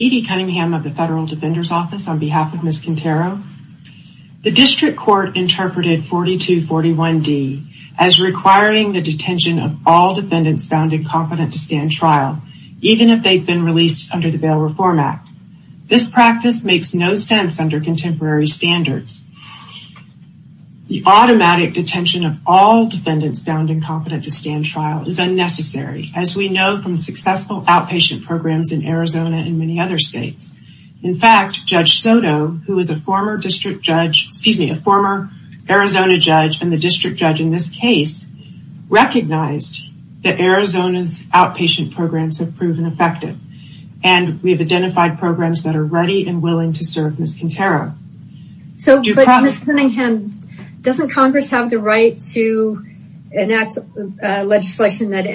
Edie Cunningham of the Federal Defender's Office on behalf of Ms. Quintero. The District Court interpreted 4241 D as requiring the detention of all defendants found incompetent to stand trial even if they've been released under the Bail Reform Act. This practice makes no sense under contemporary standards. The automatic detention of all defendants found incompetent to stand trial is unnecessary as we know from successful outpatient programs in Arizona and many other states. In fact, Judge Soto, who is a former district judge, excuse me, a former Arizona judge and the district judge in this case, recognized that Arizona's outpatient programs have proven effective and we have identified programs that are ready and willing to serve Ms. Quintero. So, but Ms. Cunningham, doesn't Congress have the right to enact legislation that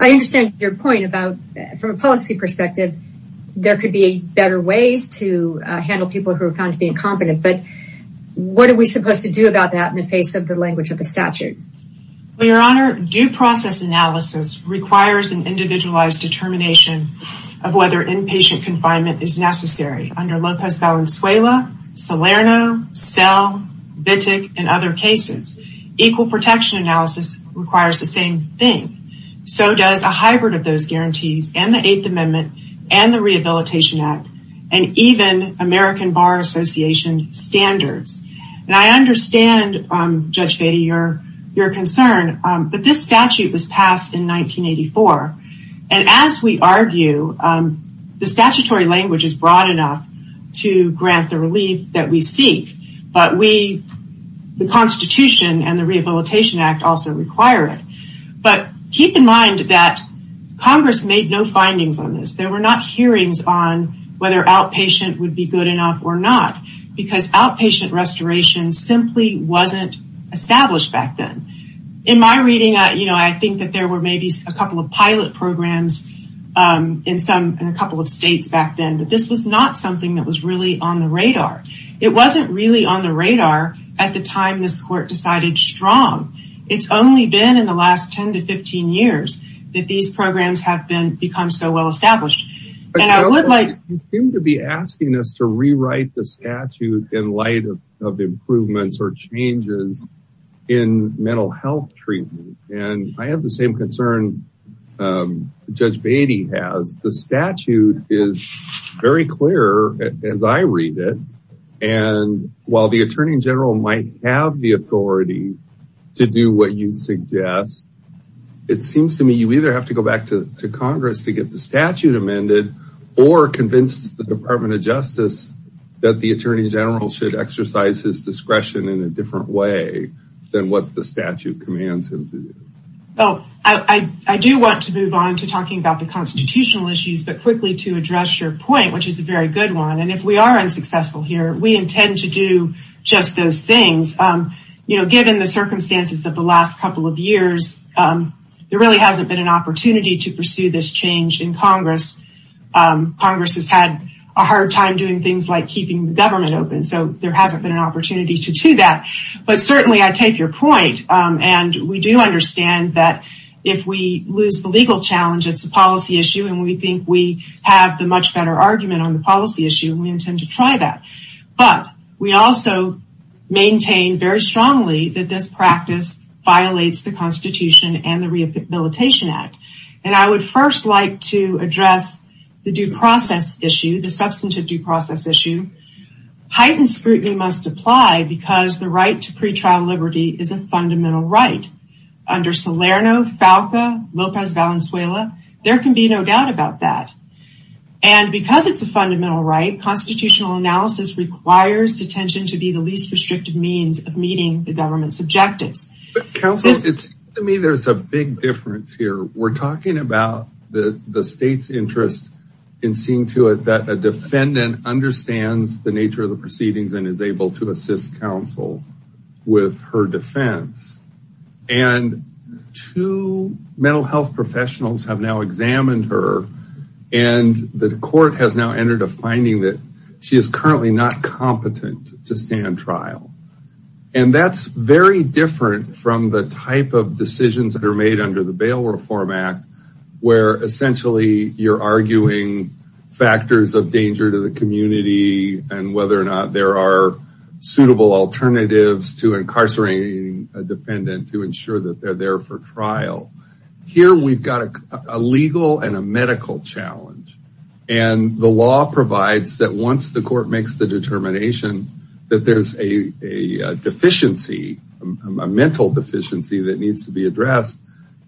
I understand your point about, from a policy perspective, there could be better ways to handle people who are found to be incompetent, but what are we supposed to do about that in the face of the language of the statute? Well, Your Honor, due process analysis requires an individualized determination of whether inpatient confinement is necessary under Lopez Valenzuela, Salerno, Selle, Vitek, and other cases. Equal protection analysis requires the same thing. So does a hybrid of those guarantees and the Eighth Amendment and the Rehabilitation Act and even American Bar Association standards. And I understand, Judge Bedi, your concern, but this statute was passed in 1984 and as we argue, the statutory language is broad enough to grant the relief that we seek, but we, the Constitution and the Rehabilitation Act also require it. But keep in mind that Congress made no findings on this. There were not hearings on whether outpatient would be good enough or not, because outpatient restoration simply wasn't established back then. In my reading, I think that there were maybe a couple of pilot programs in a couple of states back then, but this was not something that was really on the radar. It wasn't really on the radar at the time this court decided strong. It's only been in the last 10 to 15 years that these programs have become so well established. And I would like... You seem to be asking us to rewrite the statute in light of improvements or changes in the same concern Judge Bedi has. The statute is very clear as I read it, and while the Attorney General might have the authority to do what you suggest, it seems to me you either have to go back to Congress to get the statute amended or convince the Department of Justice that the Attorney General should exercise his discretion in a different way than what the statute commands him to do. Oh, I do want to move on to talking about the constitutional issues, but quickly to address your point, which is a very good one. And if we are unsuccessful here, we intend to do just those things. You know, given the circumstances of the last couple of years, there really hasn't been an opportunity to pursue this change in Congress. Congress has had a hard time doing things like keeping the government open, so there hasn't been an opportunity to do that. But certainly, I take your point, and we do understand that if we lose the legal challenge, it's a policy issue, and we think we have the much better argument on the policy issue, and we intend to try that. But we also maintain very strongly that this practice violates the Constitution and the Rehabilitation Act. And I would first like to address the due process issue, the substantive due process issue. Heightened scrutiny must apply because the right to pretrial liberty is a fundamental right. Under Salerno, Falca, Lopez, Valenzuela, there can be no doubt about that. And because it's a fundamental right, constitutional analysis requires detention to be the least restrictive means of meeting the government's objectives. Counselor, it's to me, there's a big difference here. We're talking about the nature of the proceedings and is able to assist counsel with her defense. And two mental health professionals have now examined her. And the court has now entered a finding that she is currently not competent to stand trial. And that's very different from the type of decisions that are made under the bail reform act, where essentially, you're arguing factors of danger to the community, and whether or not there are suitable alternatives to incarcerating a defendant to ensure that they're there for trial. Here, we've got a legal and a medical challenge. And the law provides that once the court makes the determination that there's a deficiency, a mental deficiency that needs to be addressed,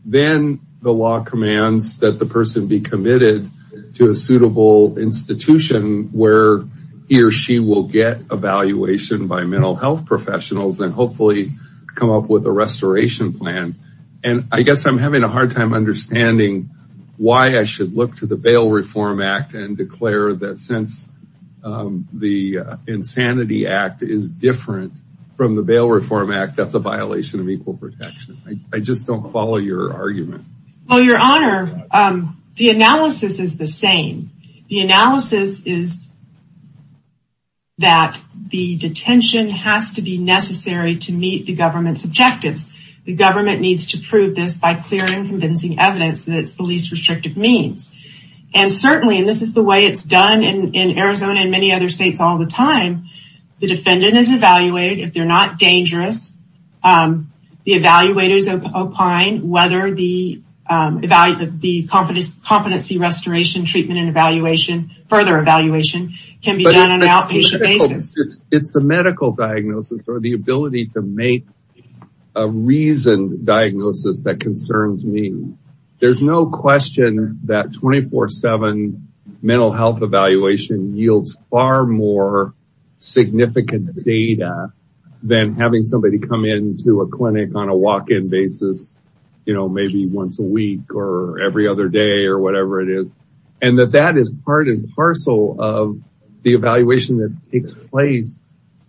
then the law commands that the person be committed to a suitable institution where he or she will get evaluation by mental health professionals and hopefully come up with a restoration plan. And I guess I'm having a hard time understanding why I should look to the bail reform act and declare that since the insanity act is different from the bail reform act, that's a violation of equal protection. I just don't follow your argument. Well, your honor, the analysis is the same. The analysis is that the detention has to be necessary to meet the government's objectives. The government needs to prove this by clear and convincing evidence that it's the least restrictive means. And certainly, and this is the way it's done in Arizona and many other states all the time, the defendant is evaluated if they're not evaluated. The competency restoration treatment and evaluation, further evaluation can be done on an outpatient basis. It's the medical diagnosis or the ability to make a reason diagnosis that concerns me. There's no question that 24 7 mental health evaluation yields far more significant data than having somebody come into a clinic on a walk-in basis, maybe once a week or every other day or whatever it is. And that that is part and parcel of the evaluation that takes place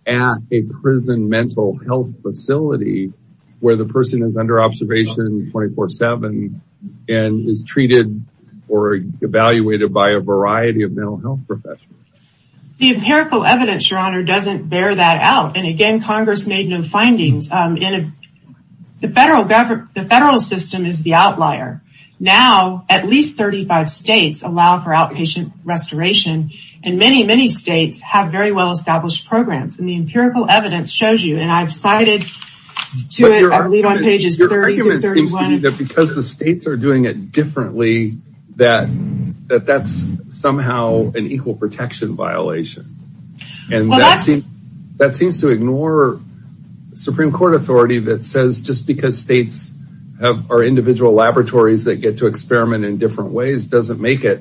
at a prison mental health facility where the person is under observation 24 7 and is treated or evaluated by a variety of mental health professionals. The empirical evidence, your honor, doesn't bear that out. And again, Congress made no findings. The federal system is the outlier. Now, at least 35 states allow for outpatient restoration. And many, many states have very well-established programs. And the empirical evidence shows you, and I've cited to it, I believe on pages 30 to 31. Because the states are doing it differently, that that's somehow an equal protection violation. And that seems to ignore Supreme Court authority that says just because states are individual laboratories that get to experiment in different ways doesn't make it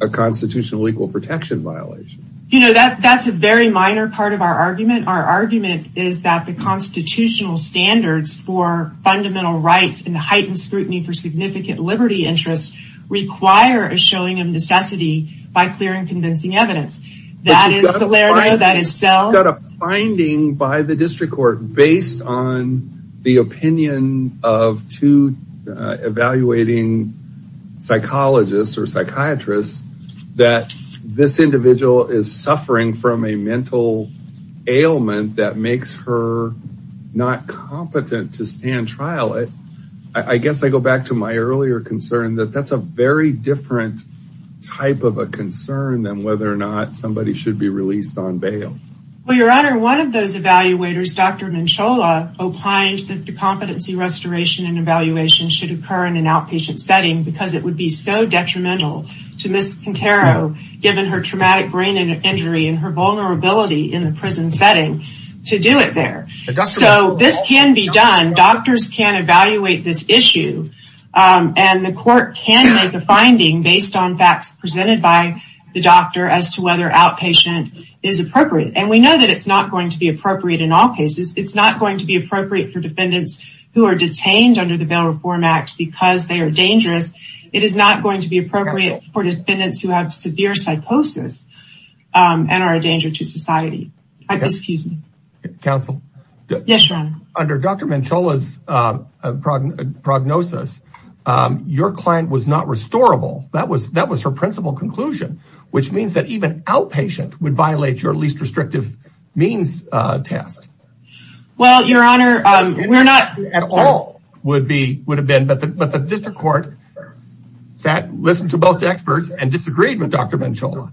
a constitutional equal protection violation. You know, that's a very minor part of our argument. Our argument is that the constitutional standards for fundamental rights and the heightened scrutiny for significant liberty interests require a showing of necessity by clear and You've got a finding by the district court based on the opinion of two evaluating psychologists or psychiatrists that this individual is suffering from a mental ailment that makes her not competent to stand trial. I guess I go back to my earlier concern that that's a very different type of a concern than whether or not somebody should be released on bail. Well, your honor, one of those evaluators, Dr. Menchola, opined that the competency restoration and evaluation should occur in an outpatient setting because it would be so detrimental to Ms. Quintero, given her traumatic brain injury and her vulnerability in the prison setting, to do it there. So this can be done. Doctors can evaluate this issue. And the court can make a finding based on facts presented by the doctor as to whether outpatient is appropriate. And we know that it's not going to be appropriate in all cases. It's not going to be appropriate for defendants who are detained under the Bail Reform Act because they are dangerous. It is not going to be appropriate for defendants who have severe psychosis and are a danger to society. Excuse me. Counsel? Yes, your honor. Under Dr. Menchola's prognosis, your client was not restorable. That was her principal conclusion, which means that even outpatient would violate your least restrictive means test. Well, your honor, we're not... At all would have been. But the district court sat, listened to both experts, and disagreed with Dr. Menchola.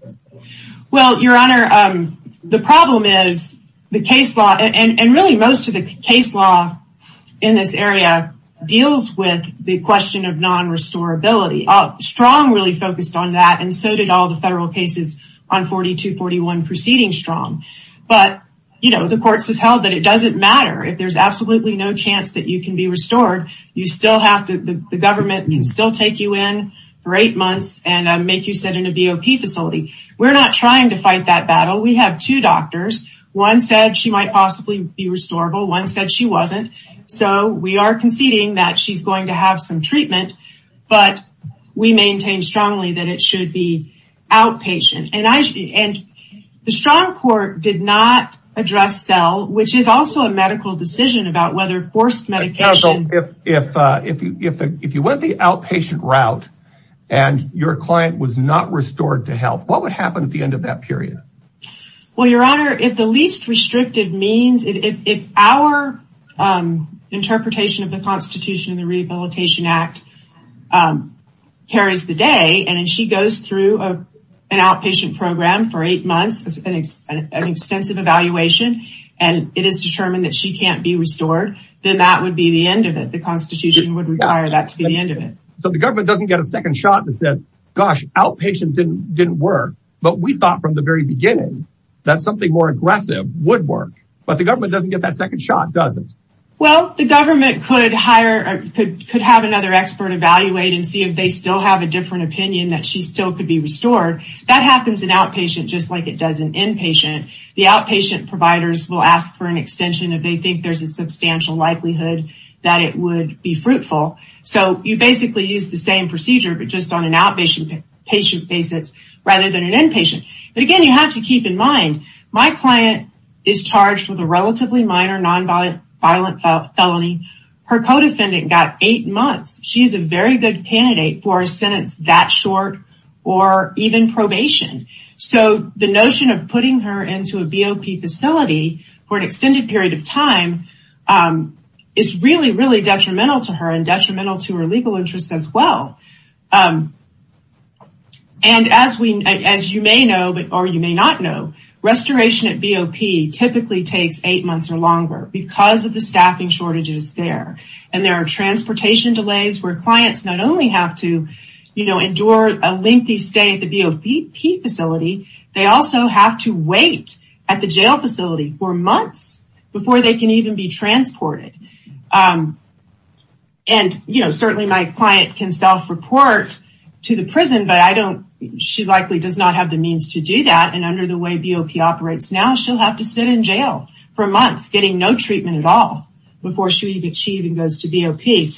Well, your honor, the problem is the case law in this area deals with the question of non-restorability. Strong really focused on that, and so did all the federal cases on 4241 proceeding strong. But the courts have held that it doesn't matter. If there's absolutely no chance that you can be restored, you still have to... The government can still take you in for eight months and make you sit in a BOP facility. We're not trying to fight that battle. We have two doctors. One said she might possibly be restorable. One said she wasn't. So we are conceding that she's going to have some treatment, but we maintain strongly that it should be outpatient. And the strong court did not address cell, which is also a medical decision about whether forced medication... Counsel, if you went the outpatient route and your client was not restored to health, what would happen at the end of that period? Well, your honor, if the least restrictive means... If our interpretation of the Constitution and the Rehabilitation Act carries the day, and she goes through an outpatient program for eight months, an extensive evaluation, and it is determined that she can't be restored, then that would be the end of it. The Constitution would require that to be the end of it. So the government doesn't get a second shot that says, gosh, outpatient didn't work. But we thought from the very beginning that something more aggressive would work. But the government doesn't get that second shot, does it? Well, the government could have another expert evaluate and see if they still have a different opinion that she still could be restored. That happens in outpatient just like it does in inpatient. The outpatient providers will ask for an extension if they think there's a substantial likelihood that it would be fruitful. So you basically use the same procedure, but just on an outpatient basis rather than an inpatient. But again, you have to keep in mind, my client is charged with a relatively minor non-violent felony. Her co-defendant got eight months. She's a very good candidate for a sentence that short or even probation. So the notion of putting her into a BOP facility for an extended period of time is really, really detrimental to her and detrimental to her legal interests as well. And as you may know, or you may not know, restoration at BOP typically takes eight months or longer because of the staffing shortages there. And there are transportation delays where clients not only have to, you know, endure a lengthy stay at the BOP facility, they also have to wait at the jail facility for months before they can even be transported. And, you know, certainly my client can self-report to the prison, but I don't, she likely does not have the means to do that. And under the way BOP operates now, she'll have to sit in jail for months getting no treatment at all before she even achieved and goes to BOP.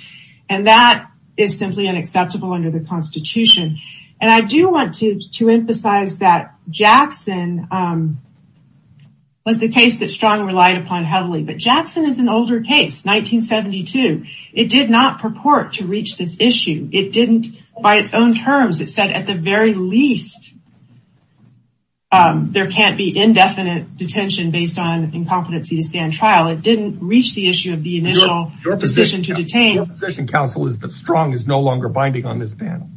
And that is simply unacceptable under the Constitution. And I do want to emphasize that Jackson was the case that Strong relied upon heavily, but Jackson is an older case, 1972. It did not purport to reach this issue. It didn't, by its own terms, it said at the very least, there can't be indefinite detention based on incompetency to stand trial. It didn't reach the issue of the initial position to detain. Your position counsel is that Strong is no longer binding on this panel.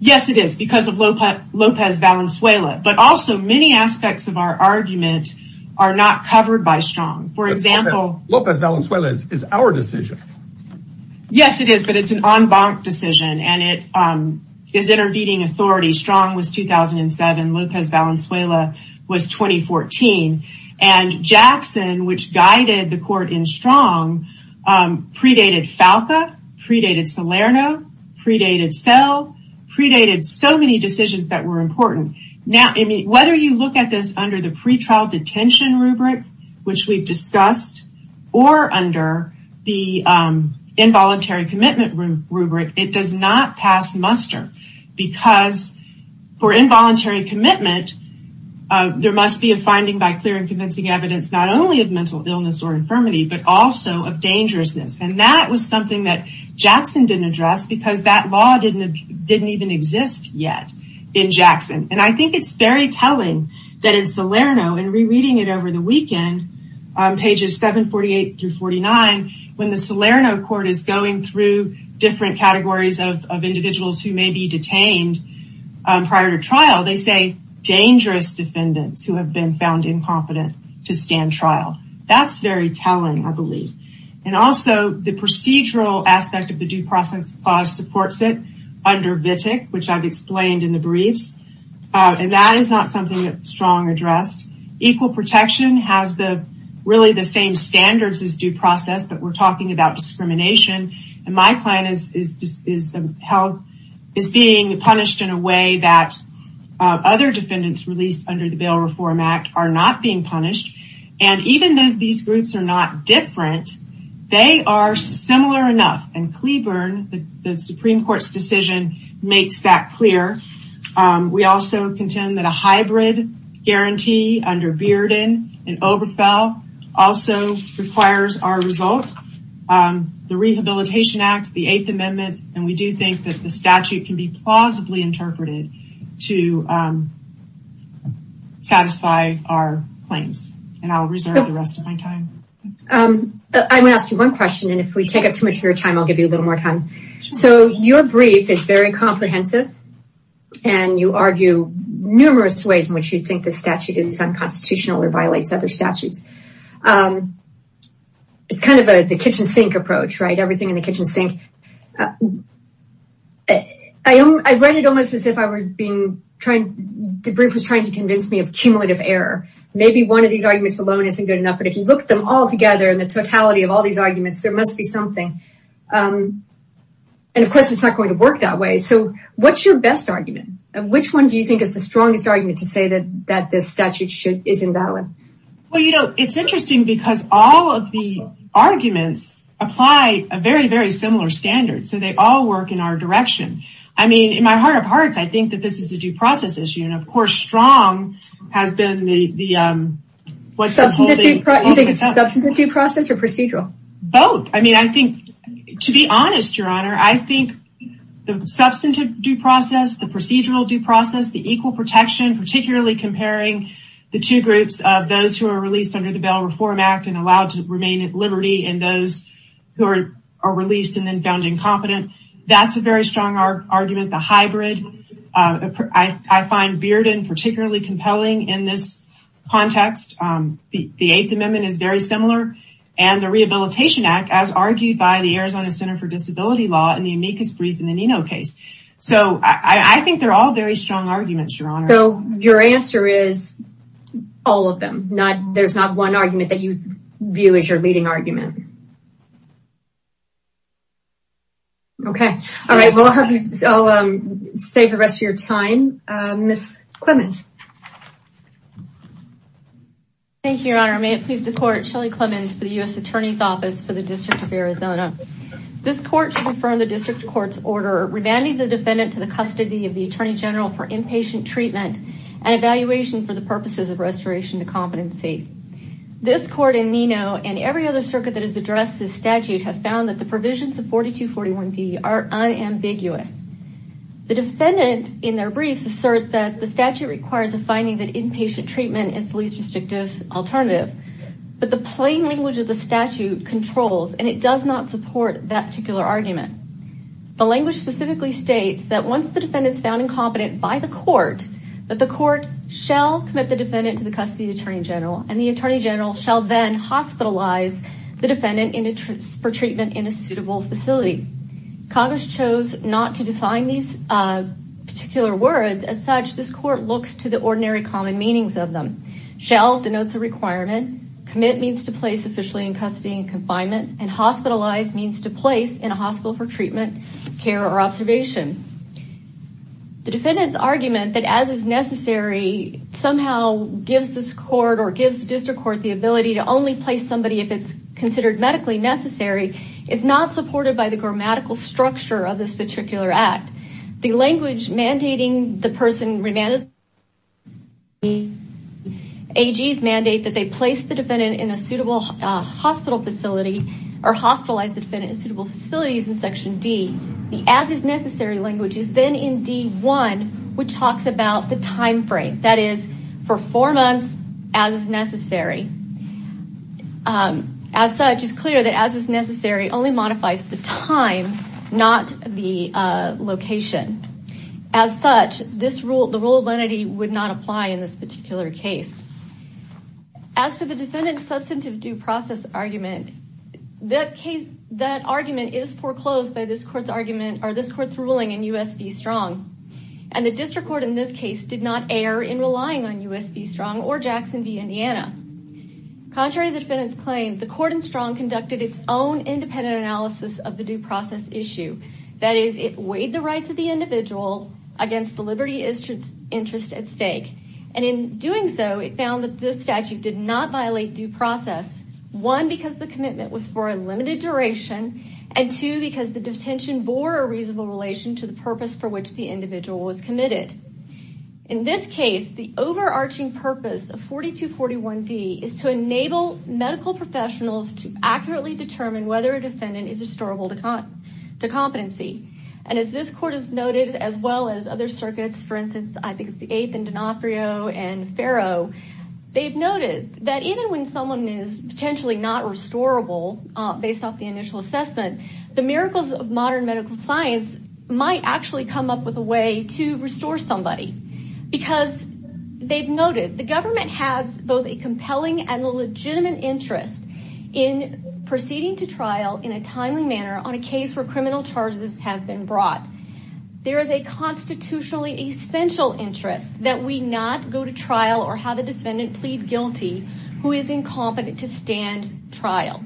Yes, it is because of Lopez Valenzuela, but also many aspects of our argument are not covered by Strong. For example, Lopez Valenzuela is our decision. Yes, it is, but it's an en banc decision and it is intervening authority. Strong was 2007, Lopez Valenzuela was 2014. And Jackson, which guided the court in Strong, predated FALCA, predated Salerno, predated SEL, predated so many decisions that were important. Now, whether you look at this under the pretrial detention rubric, which we've discussed, or under the involuntary commitment rubric, it does not pass muster because for involuntary commitment, there must be a finding by clear and convincing evidence, not only of mental illness or infirmity, but also of dangerousness. And that was something that Jackson didn't address because that law didn't even exist yet in Jackson. And I think it's very telling that in Salerno and rereading it over the weekend, pages 748 through 49, when the Salerno court is going through different categories of individuals who may be detained prior to trial, they say, dangerous defendants who have been found incompetent to stand trial. That's very telling, I believe. And also the procedural aspect of the due process clause supports it under VTIC, which I've explained in the briefs. And that is not strong addressed. Equal protection has really the same standards as due process, but we're talking about discrimination. And my client is being punished in a way that other defendants released under the Bail Reform Act are not being punished. And even though these groups are not different, they are similar enough. And Cleburne, the Supreme Court's decision, makes that clear. We also contend that a hybrid guarantee under Bearden and Oberfell also requires our result. The Rehabilitation Act, the Eighth Amendment, and we do think that the statute can be plausibly interpreted to satisfy our claims. And I'll reserve the rest of my time. I'm going to ask you one question, and if we take up too much of your time, I'll give you a little more time. So your brief is very comprehensive. And you argue numerous ways in which you think the statute is unconstitutional or violates other statutes. It's kind of the kitchen sink approach, right? Everything in the kitchen sink. I read it almost as if the brief was trying to convince me of cumulative error. Maybe one of these arguments alone isn't good enough, but if you look at them all together in the totality of all these arguments, there must be something. And of course, it's not going to work that way. So what's your best argument? And which one do you think is the strongest argument to say that this statute is invalid? Well, you know, it's interesting because all of the arguments apply a very, very similar standard. So they all work in our direction. I mean, in my heart of hearts, I think that this is a due process issue. And of course, strong has been the... Substantive due process or procedural? Both. I mean, I think, to be honest, Your Honor, I think the substantive due process, the procedural due process, the equal protection, particularly comparing the two groups of those who are released under the Bail Reform Act and allowed to remain at liberty and those who are released and then found incompetent. That's a very strong argument. The hybrid. I find Bearden particularly compelling in this context. The Eighth Amendment is very similar. And the Rehabilitation Act, as argued by the Arizona Center for Disability Law in the amicus brief in the Nino case. So I think they're all very strong arguments, Your Honor. So your answer is all of them. Not there's not one argument that you view as your leading argument. Okay. All right. Well, I'll save the rest of your time. Ms. Clements. Thank you, Your Honor. May it please the court. Shelley Clements for the U.S. Attorney's Office for the District of Arizona. This court should confirm the district court's order revanding the defendant to the custody of the attorney general for inpatient treatment and evaluation for the purposes of restoration to competency. This court in Nino and every other circuit that has addressed this statute have found that the provisions of 4241D are unambiguous. The defendant in their briefs assert that the statute requires a finding that inpatient treatment is the least restrictive alternative. But the plain language of the statute controls and it does not support that particular argument. The language specifically states that once the defendant is found incompetent by the court, that the court shall commit the defendant to the custody of the attorney general and the attorney general shall then hospitalize the defendant for treatment in a particular words. As such, this court looks to the ordinary common meanings of them. Shall denotes a requirement. Commit means to place officially in custody and confinement and hospitalized means to place in a hospital for treatment, care or observation. The defendant's argument that as is necessary somehow gives this court or gives the district court the ability to only place somebody if it's considered medically necessary is not supported by the grammatical structure of this particular act. The language mandating the person remanded AGs mandate that they place the defendant in a suitable hospital facility or hospitalized the defendant in suitable facilities in section D. The as is necessary language is then in D1, which talks about the time frame. That is for four months as is necessary. As such, it's clear that as is necessary only modifies the time, not the location. As such, this rule, the rule of entity would not apply in this particular case. As for the defendant's substantive due process argument, that case, that argument is foreclosed by this court's argument or this court's ruling in US v. Strong. And the district court in this Jackson v. Indiana. Contrary to the defendant's claim, the court in Strong conducted its own independent analysis of the due process issue. That is, it weighed the rights of the individual against the liberty interest at stake. And in doing so, it found that this statute did not violate due process. One, because the commitment was for a limited duration. And two, because the detention bore a reasonable relation to the purpose for which the individual was committed. In this case, the overarching purpose of 4241 D is to enable medical professionals to accurately determine whether a defendant is restorable to competency. And as this court has noted, as well as other circuits, for instance, I think it's the eighth and D'Onofrio and Ferro, they've noted that even when someone is potentially not restorable based off the initial assessment, the miracles of modern medical science might actually come up with a way to restore somebody. Because they've noted the government has both a compelling and legitimate interest in proceeding to trial in a timely manner on a case where criminal charges have been brought. There is a constitutionally essential interest that we not go to trial or have a defendant plead guilty who is incompetent to stand trial.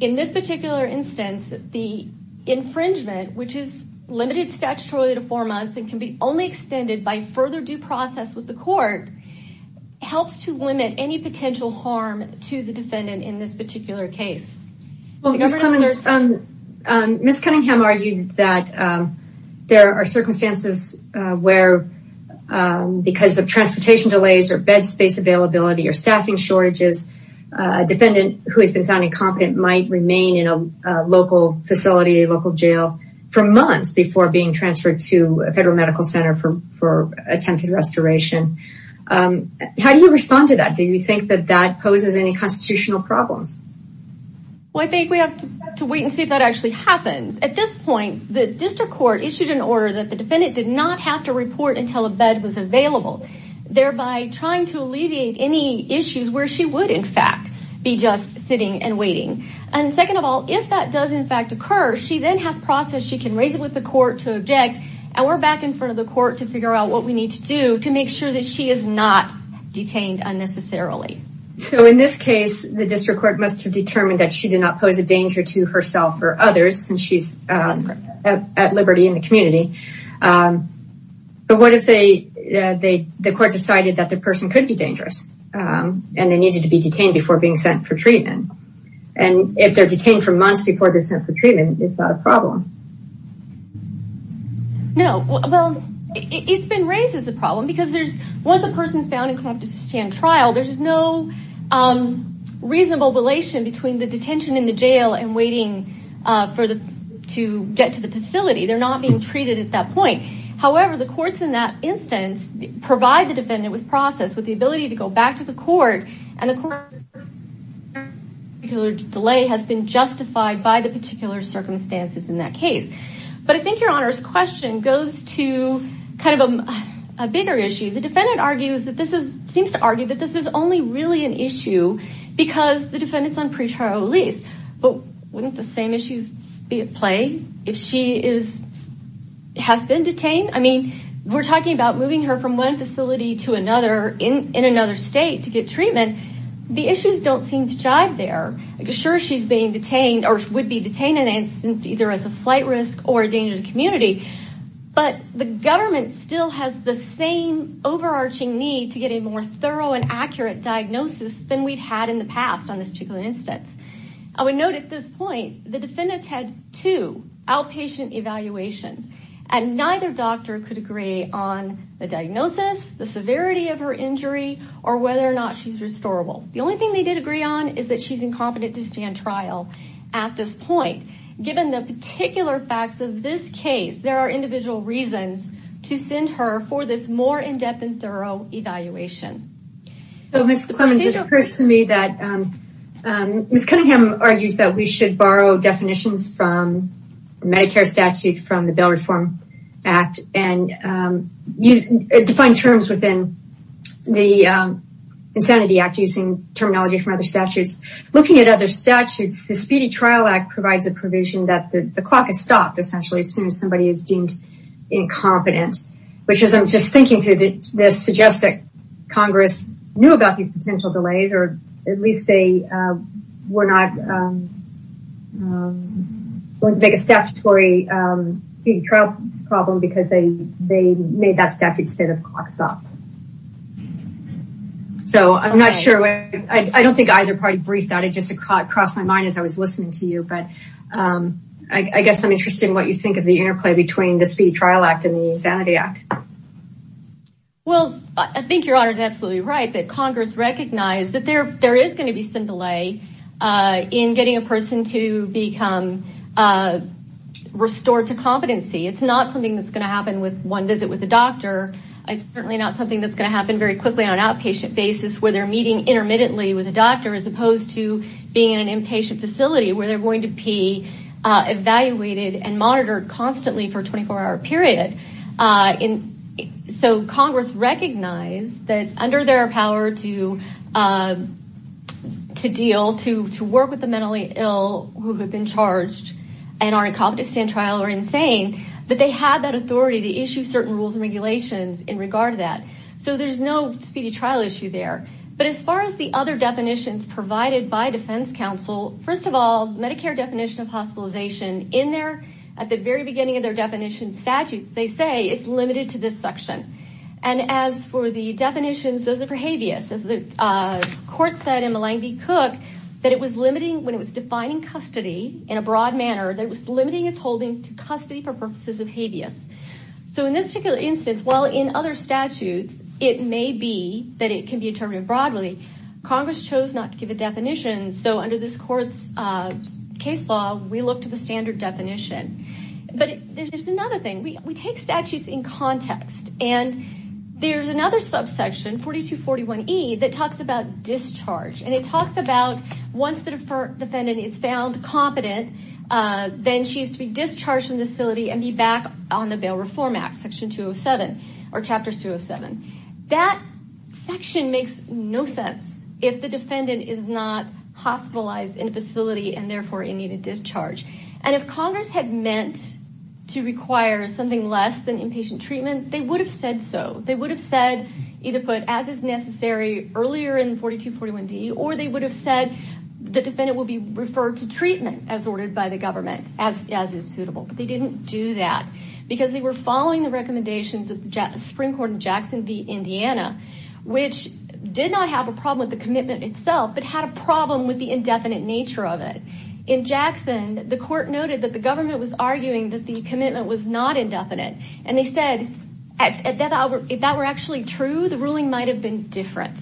In this particular instance, the infringement, which is limited statutorily to four months and can be only extended by further due process with the court, helps to limit any potential harm to the defendant in this particular case. Ms. Cunningham argued that there are circumstances where because of transportation delays or bed space availability or staffing shortages, a defendant who has been found incompetent might remain in a local facility, a local jail for months before being transferred to a federal medical center for attempted restoration. How do you respond to that? Do you think that that poses any constitutional problems? Well, I think we have to wait and see if that actually happens. At this point, the district court issued an order that the defendant did not have to report until a bed was available, thereby trying to alleviate any issues where she would, in fact, be just sitting and if that does, in fact, occur, she then has process. She can raise it with the court to object, and we're back in front of the court to figure out what we need to do to make sure that she is not detained unnecessarily. So in this case, the district court must have determined that she did not pose a danger to herself or others, and she's at liberty in the community. But what if the court decided that the person could be dangerous and they needed to be detained before being sent for treatment? And if they're detained for months before they're sent for treatment, is that a problem? No. Well, it's been raised as a problem because there's, once a person is found incompetent to stand trial, there's no reasonable relation between the detention in the jail and waiting to get to the facility. They're not being treated at that point. However, the courts in that instance provide the defendant with process, with the ability to go back to the court and the delay has been justified by the particular circumstances in that case. But I think your honor's question goes to kind of a bigger issue. The defendant seems to argue that this is only really an issue because the defendant's on pre-trial release, but wouldn't the same issues be at play if she has been detained? I mean, we're talking about one facility to another in another state to get treatment. The issues don't seem to jive there. Sure, she's being detained or would be detained in an instance either as a flight risk or a danger to the community. But the government still has the same overarching need to get a more thorough and accurate diagnosis than we've had in the past on this particular instance. I would note at this severity of her injury or whether or not she's restorable. The only thing they did agree on is that she's incompetent to stand trial at this point. Given the particular facts of this case, there are individual reasons to send her for this more in-depth and thorough evaluation. So, Ms. Clemons, it occurs to me that Ms. Cunningham argues that we should borrow definitions from the Medicare statute, from the Bail Reform Act, and define terms within the Insanity Act using terminology from other statutes. Looking at other statutes, the Speedy Trial Act provides a provision that the clock is stopped essentially as soon as somebody is deemed incompetent, which as I'm just thinking through this suggests that Congress knew these potential delays or at least they were not going to make a statutory speedy trial problem because they made that statute instead of clock stops. So, I'm not sure. I don't think either party briefed that. It just crossed my mind as I was listening to you. But I guess I'm interested in what you think of the interplay between the Speedy Trial Act and the Insanity Act. Well, I think Your Honor is absolutely right that Congress recognized that there is going to be some delay in getting a person to become restored to competency. It's not something that's going to happen with one visit with a doctor. It's certainly not something that's going to happen very quickly on an outpatient basis where they're meeting intermittently with a doctor as opposed to being in an inpatient facility where they're going to be evaluated and monitored constantly for a 24-hour period. So, Congress recognized that under their power to deal, to work with the mentally ill who have been charged and are incompetent to stand trial or insane, that they had that authority to issue certain rules and regulations in regard to that. So, there's no speedy trial issue there. But as far as the other definitions provided by defense counsel, first of all, Medicare definition of hospitalization in there at the very beginning of their definition statute, they say it's limited to this section. And as for the definitions, those are for habeas. As the court said in Malang v. Cook, that it was limiting when it was defining custody in a broad manner, that it was limiting its holding to custody for purposes of habeas. So, in this particular instance, while in other statutes, it may be that it can be determined broadly, Congress chose not to give a definition. So, under this court's case law, we look to the standard definition. But there's another thing. We take statutes in context. And there's another subsection, 4241E, that talks about discharge. And it talks about once the defendant is found competent, then she is to be discharged from the facility and be back on the Bail Reform Act, Section 207 or Chapter 207. That section makes no sense if the defendant is not hospitalized in a facility and therefore in need of discharge. And if Congress had meant to require something less than inpatient treatment, they would have said so. They would have said, either put as is necessary earlier in 4241D, or they would have said the defendant will be referred to treatment as ordered by the government as is suitable. But they didn't do that because they were following the recommendations of the Supreme Court in Jackson v. Indiana, which did not have a problem with the commitment itself, but had a problem with indefinite nature of it. In Jackson, the court noted that the government was arguing that the commitment was not indefinite. And they said, if that were actually true, the ruling might have been different.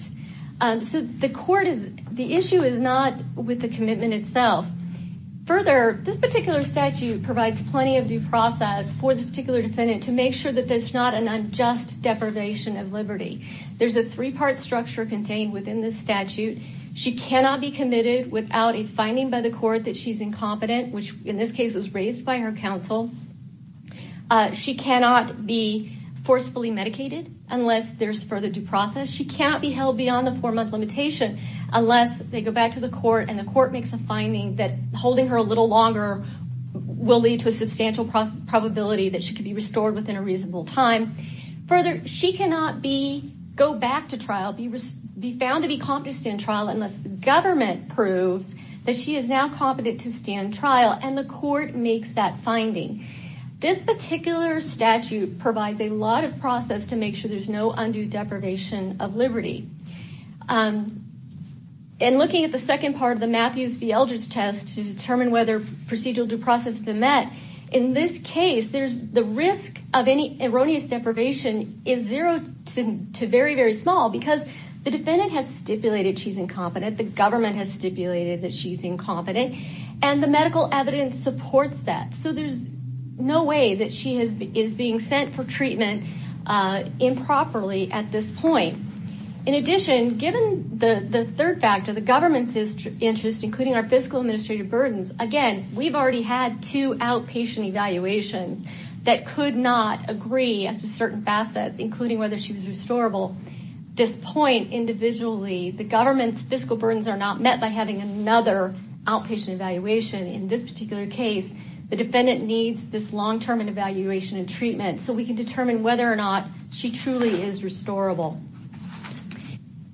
So, the issue is not with the commitment itself. Further, this particular statute provides plenty of due process for this particular defendant to make sure that there's not an unjust deprivation of liberty. There's a three-part structure contained within this statute. She cannot be committed without a finding by the court that she's incompetent, which in this case was raised by her counsel. She cannot be forcefully medicated unless there's further due process. She cannot be held beyond the four-month limitation unless they go back to the court and the court makes a finding that holding her a little longer will lead to a substantial probability that she could be restored within a reasonable time. Further, she cannot go back to trial, be found to be competent in trial unless the government proves that she is now competent to stand trial and the court makes that finding. This particular statute provides a lot of process to make sure there's no undue deprivation of liberty. In looking at the second part of the Matthews v. Eldridge test to determine whether procedural due process has been met, in this case, there's the risk of she's incompetent, the government has stipulated that she's incompetent, and the medical evidence supports that. So there's no way that she is being sent for treatment improperly at this point. In addition, given the third factor, the government's interest, including our fiscal administrative burdens, again, we've already had two outpatient evaluations that could not agree as to certain facets, including whether she was restorable. This point, individually, the government's fiscal burdens are not met by having another outpatient evaluation. In this particular case, the defendant needs this long-term evaluation and treatment so we can determine whether or not she truly is restorable.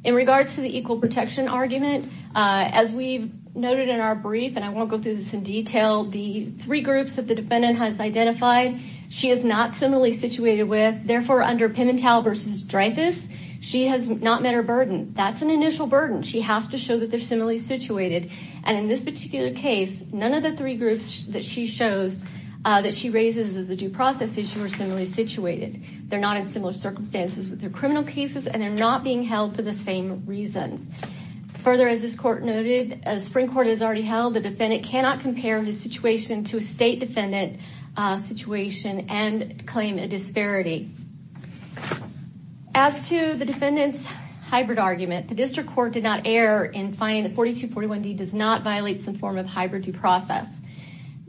In regards to the equal protection argument, as we've noted in our brief, and I won't go through this in detail, the three groups that the defendant has identified, she is not similarly situated with. Therefore, under Pimentel v. Dreyfus, she has not met her burden. That's an initial burden. She has to show that they're similarly situated. And in this particular case, none of the three groups that she shows that she raises as a due process issue are similarly situated. They're not in similar circumstances with their criminal cases and they're not being held for the same reasons. Further, as this court noted, as Spring Court has and claim a disparity. As to the defendant's hybrid argument, the district court did not err in finding that 4241D does not violate some form of hybrid due process.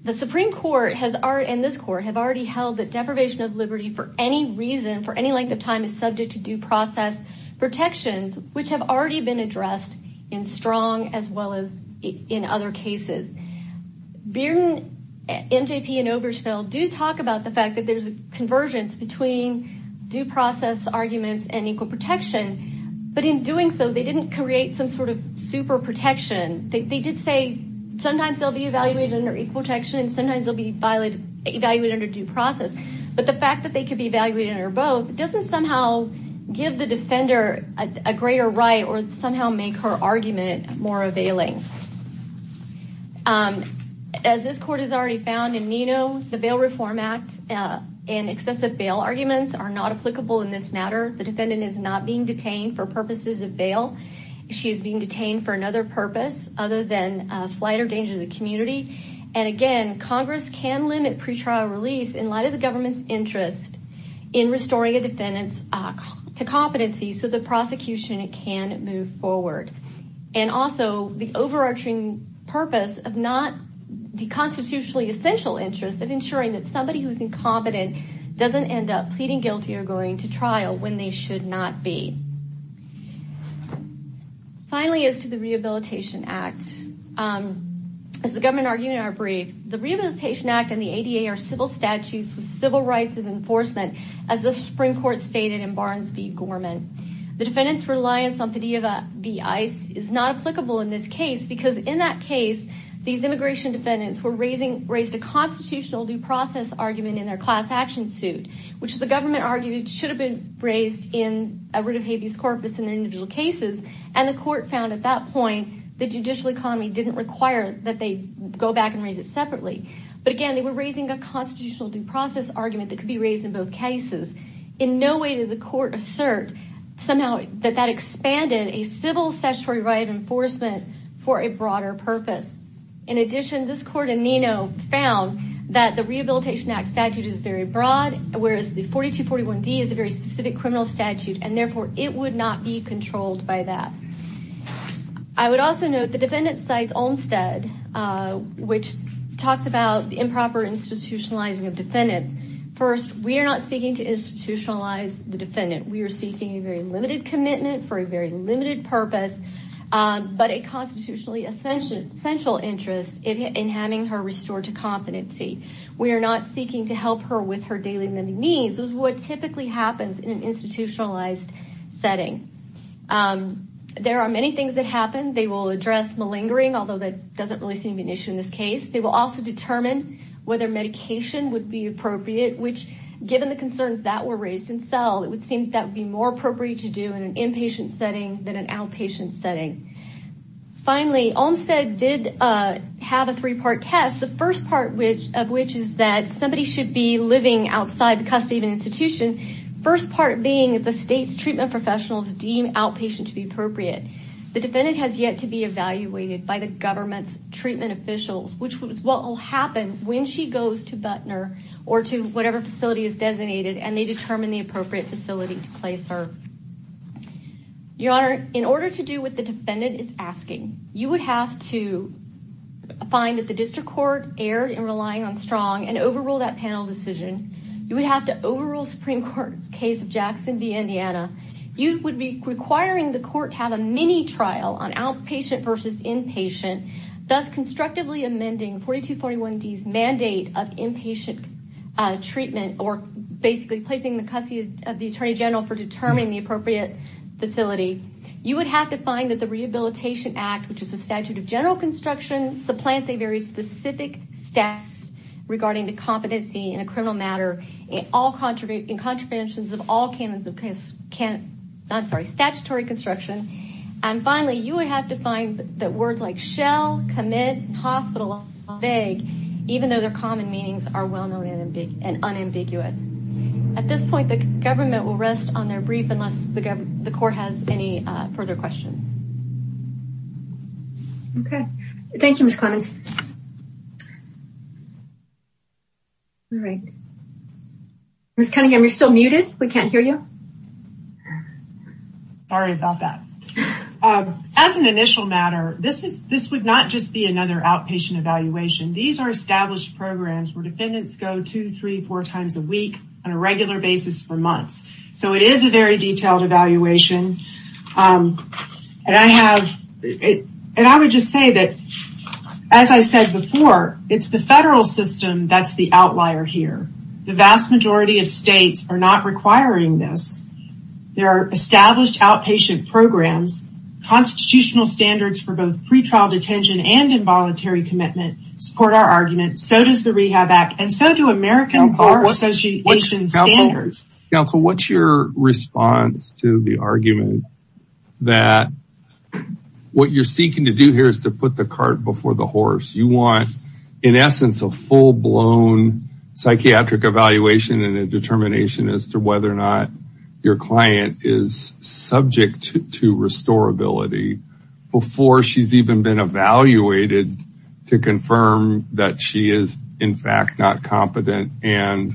The Supreme Court and this court have already held that deprivation of liberty for any reason for any length of time is subject to due process protections, which have already been addressed in Strong as well as in other cases. Bearden, NJP, and Obergefell do talk about the fact that there's a convergence between due process arguments and equal protection. But in doing so, they didn't create some sort of super protection. They did say sometimes they'll be evaluated under equal protection and sometimes they'll be evaluated under due process. But the fact that they could be evaluated under both doesn't somehow give the defender a greater right or somehow make her argument more availing. As this court has already found in Nino, the Bail Reform Act and excessive bail arguments are not applicable in this matter. The defendant is not being detained for purposes of bail. She is being detained for another purpose other than flight or danger to the community. And again, Congress can limit pretrial release in light of the government's interest in restoring a defendant's competency so the prosecution can move forward. And also, the overarching purpose of not the constitutionally essential interest of ensuring that somebody who's incompetent doesn't end up pleading guilty or going to trial when they should not be. Finally, as to the Rehabilitation Act, as the government argued in our brief, the Rehabilitation Act and the ADA are civil statutes with civil rights of enforcement, as the Supreme Court stated in Barnes v. Gorman. The defendant's reliance on PDEVA v. ICE is not applicable in this case because in that case, these immigration defendants were raised a constitutional due process argument in their class action suit, which the government argued should have been raised in a writ of habeas corpus in their individual cases. And the court found at that point, the judicial economy didn't require that they go back and raise it separately. But again, they were raising a constitutional due process argument that could be raised in both for a broader purpose. In addition, this court in Neno found that the Rehabilitation Act statute is very broad, whereas the 4241D is a very specific criminal statute, and therefore, it would not be controlled by that. I would also note the defendant cites Olmstead, which talks about improper institutionalizing of defendants. First, we are not seeking to institutionalize the defendant. We are seeking a very limited commitment for a very limited purpose. But a constitutionally essential interest in having her restored to competency. We are not seeking to help her with her daily living needs, which is what typically happens in an institutionalized setting. There are many things that happen. They will address malingering, although that doesn't really seem to be an issue in this case. They will also determine whether medication would be appropriate, which given the concerns that were raised in cell, it would seem that would appropriate to do in an inpatient setting than an outpatient setting. Finally, Olmstead did have a three-part test. The first part of which is that somebody should be living outside the custody of an institution. First part being the state's treatment professionals deem outpatient to be appropriate. The defendant has yet to be evaluated by the government's treatment officials, which is what will happen when she goes to Butner or to whatever facility is designated and they determine the appropriate facility to place her. Your Honor, in order to do what the defendant is asking, you would have to find that the district court erred in relying on strong and overrule that panel decision. You would have to overrule Supreme Court's case of Jackson v. Indiana. You would be requiring the court to have a mini trial on outpatient versus inpatient, thus constructively amending 4241D's mandate of inpatient treatment or basically placing the custody of the Attorney General for determining the appropriate facility. You would have to find that the Rehabilitation Act, which is a statute of general construction, supplants a very specific status regarding the competency in a criminal matter in contraventions of all statutory construction. Finally, you would have to find that words like shell, commit, and hospital are vague, even though their common meanings are well-known and unambiguous. At this point, the government will rest on their brief unless the court has any further questions. Okay. Thank you, Ms. Clemmons. All right. Ms. Cunningham, you're still muted. We can't hear you. Sorry about that. As an initial matter, this would not just be another outpatient evaluation. These are established programs where defendants go two, three, four times a week on a regular basis for months. So it is a very detailed evaluation. And I would just say that, as I said before, it's the federal system that's the outlier here. The vast majority of states are not requiring this. There are established outpatient programs, constitutional standards for both pretrial detention and involuntary commitment support our argument. So does the Rehab Act, and so do American Court Association standards. Counsel, what's your response to the argument that what you're seeking to do here is to put the cart before the horse? You want, in essence, a full-blown psychiatric evaluation and a determination as to whether or not your client is subject to restorability before she's even been evaluated to confirm that she is, in fact, not competent and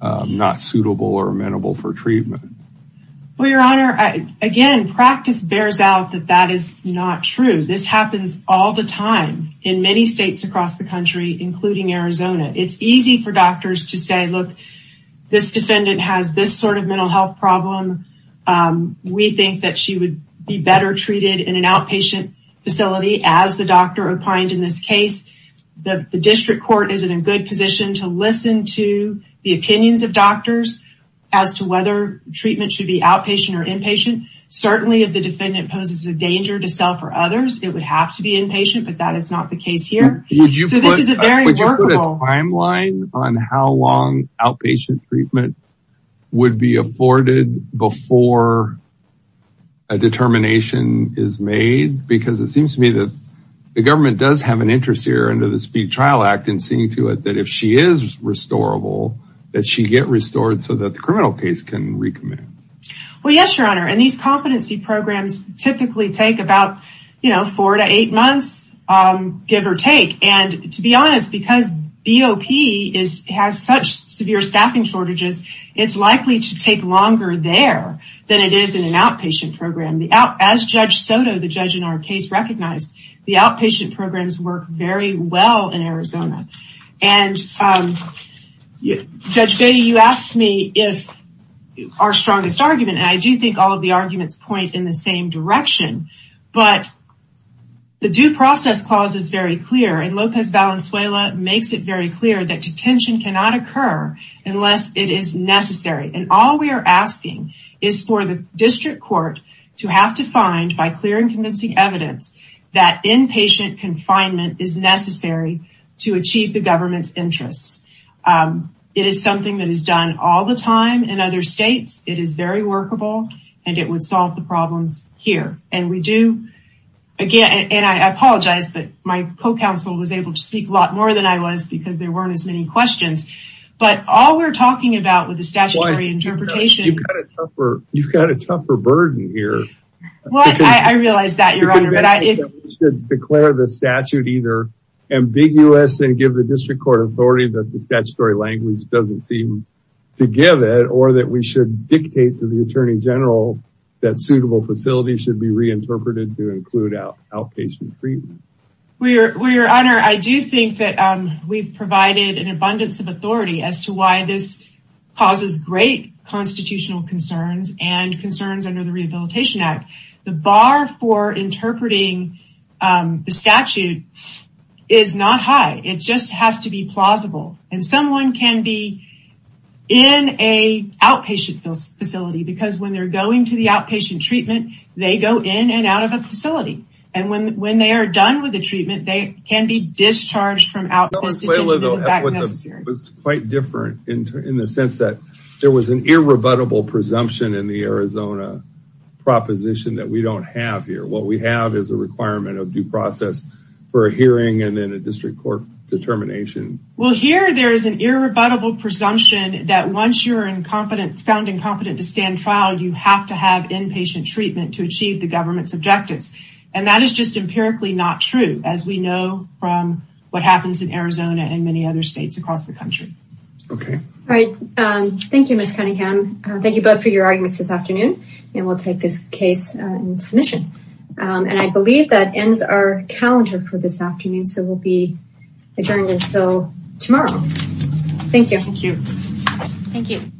not suitable or amenable for treatment. Well, Your Honor, again, practice bears out that that is not true. This happens all the time in many states across the country, including Arizona. It's easy for doctors to say, look, this defendant has this sort of mental health problem. We think that she would be better treated in an outpatient facility as the doctor opined in this case. The district court is in a good position to listen to the opinions of doctors as to whether treatment should be outpatient or inpatient. Certainly, if the defendant poses a danger to self or others, it would have to be outpatient, but that is not the case here. Would you put a timeline on how long outpatient treatment would be afforded before a determination is made? Because it seems to me that the government does have an interest here under the Speed Trial Act in seeing to it that if she is restorable, that she get restored so that the criminal case can recommit. Well, yes, Your Honor, and these competency programs typically take about, you know, four to eight months, give or take. And to be honest, because BOP has such severe staffing shortages, it's likely to take longer there than it is in an outpatient program. As Judge Soto, the judge in our case, recognized, the outpatient programs work very well in Arizona. And Judge Soto's argument, and I do think all of the arguments point in the same direction, but the Due Process Clause is very clear, and Lopez Valenzuela makes it very clear, that detention cannot occur unless it is necessary. And all we are asking is for the district court to have to find, by clear and convincing evidence, that inpatient confinement is necessary to achieve the government's interests. It is something that is done all the time in other states, it is very workable, and it would solve the problems here. And we do, again, and I apologize, but my co-counsel was able to speak a lot more than I was, because there weren't as many questions. But all we're talking about with the statutory interpretation... You've got a tougher burden here. Well, I realize that, Your Honor, but I... We should declare the statute either ambiguous and give the district court authority that the statutory language doesn't seem to give it, or that we should dictate to the Attorney General that suitable facilities should be reinterpreted to include outpatient treatment. Well, Your Honor, I do think that we've provided an abundance of authority as to why this causes great constitutional concerns and concerns under the Rehabilitation Act. The bar for interpreting the statute is not high. It just has to be in an outpatient facility, because when they're going to the outpatient treatment, they go in and out of a facility. And when they are done with the treatment, they can be discharged from out... That was quite different in the sense that there was an irrebuttable presumption in the Arizona proposition that we don't have here. What we have is a requirement of due process for a hearing and then a district court determination. Well, here there is an irrebuttable presumption that once you're found incompetent to stand trial, you have to have inpatient treatment to achieve the government's objectives. And that is just empirically not true, as we know from what happens in Arizona and many other states across the country. Okay. All right. Thank you, Ms. Cunningham. Thank you both for your arguments this afternoon, and we'll take this case in submission. And I believe that ends our calendar for this afternoon, so we'll be adjourned until tomorrow. Thank you. Thank you. Thank you.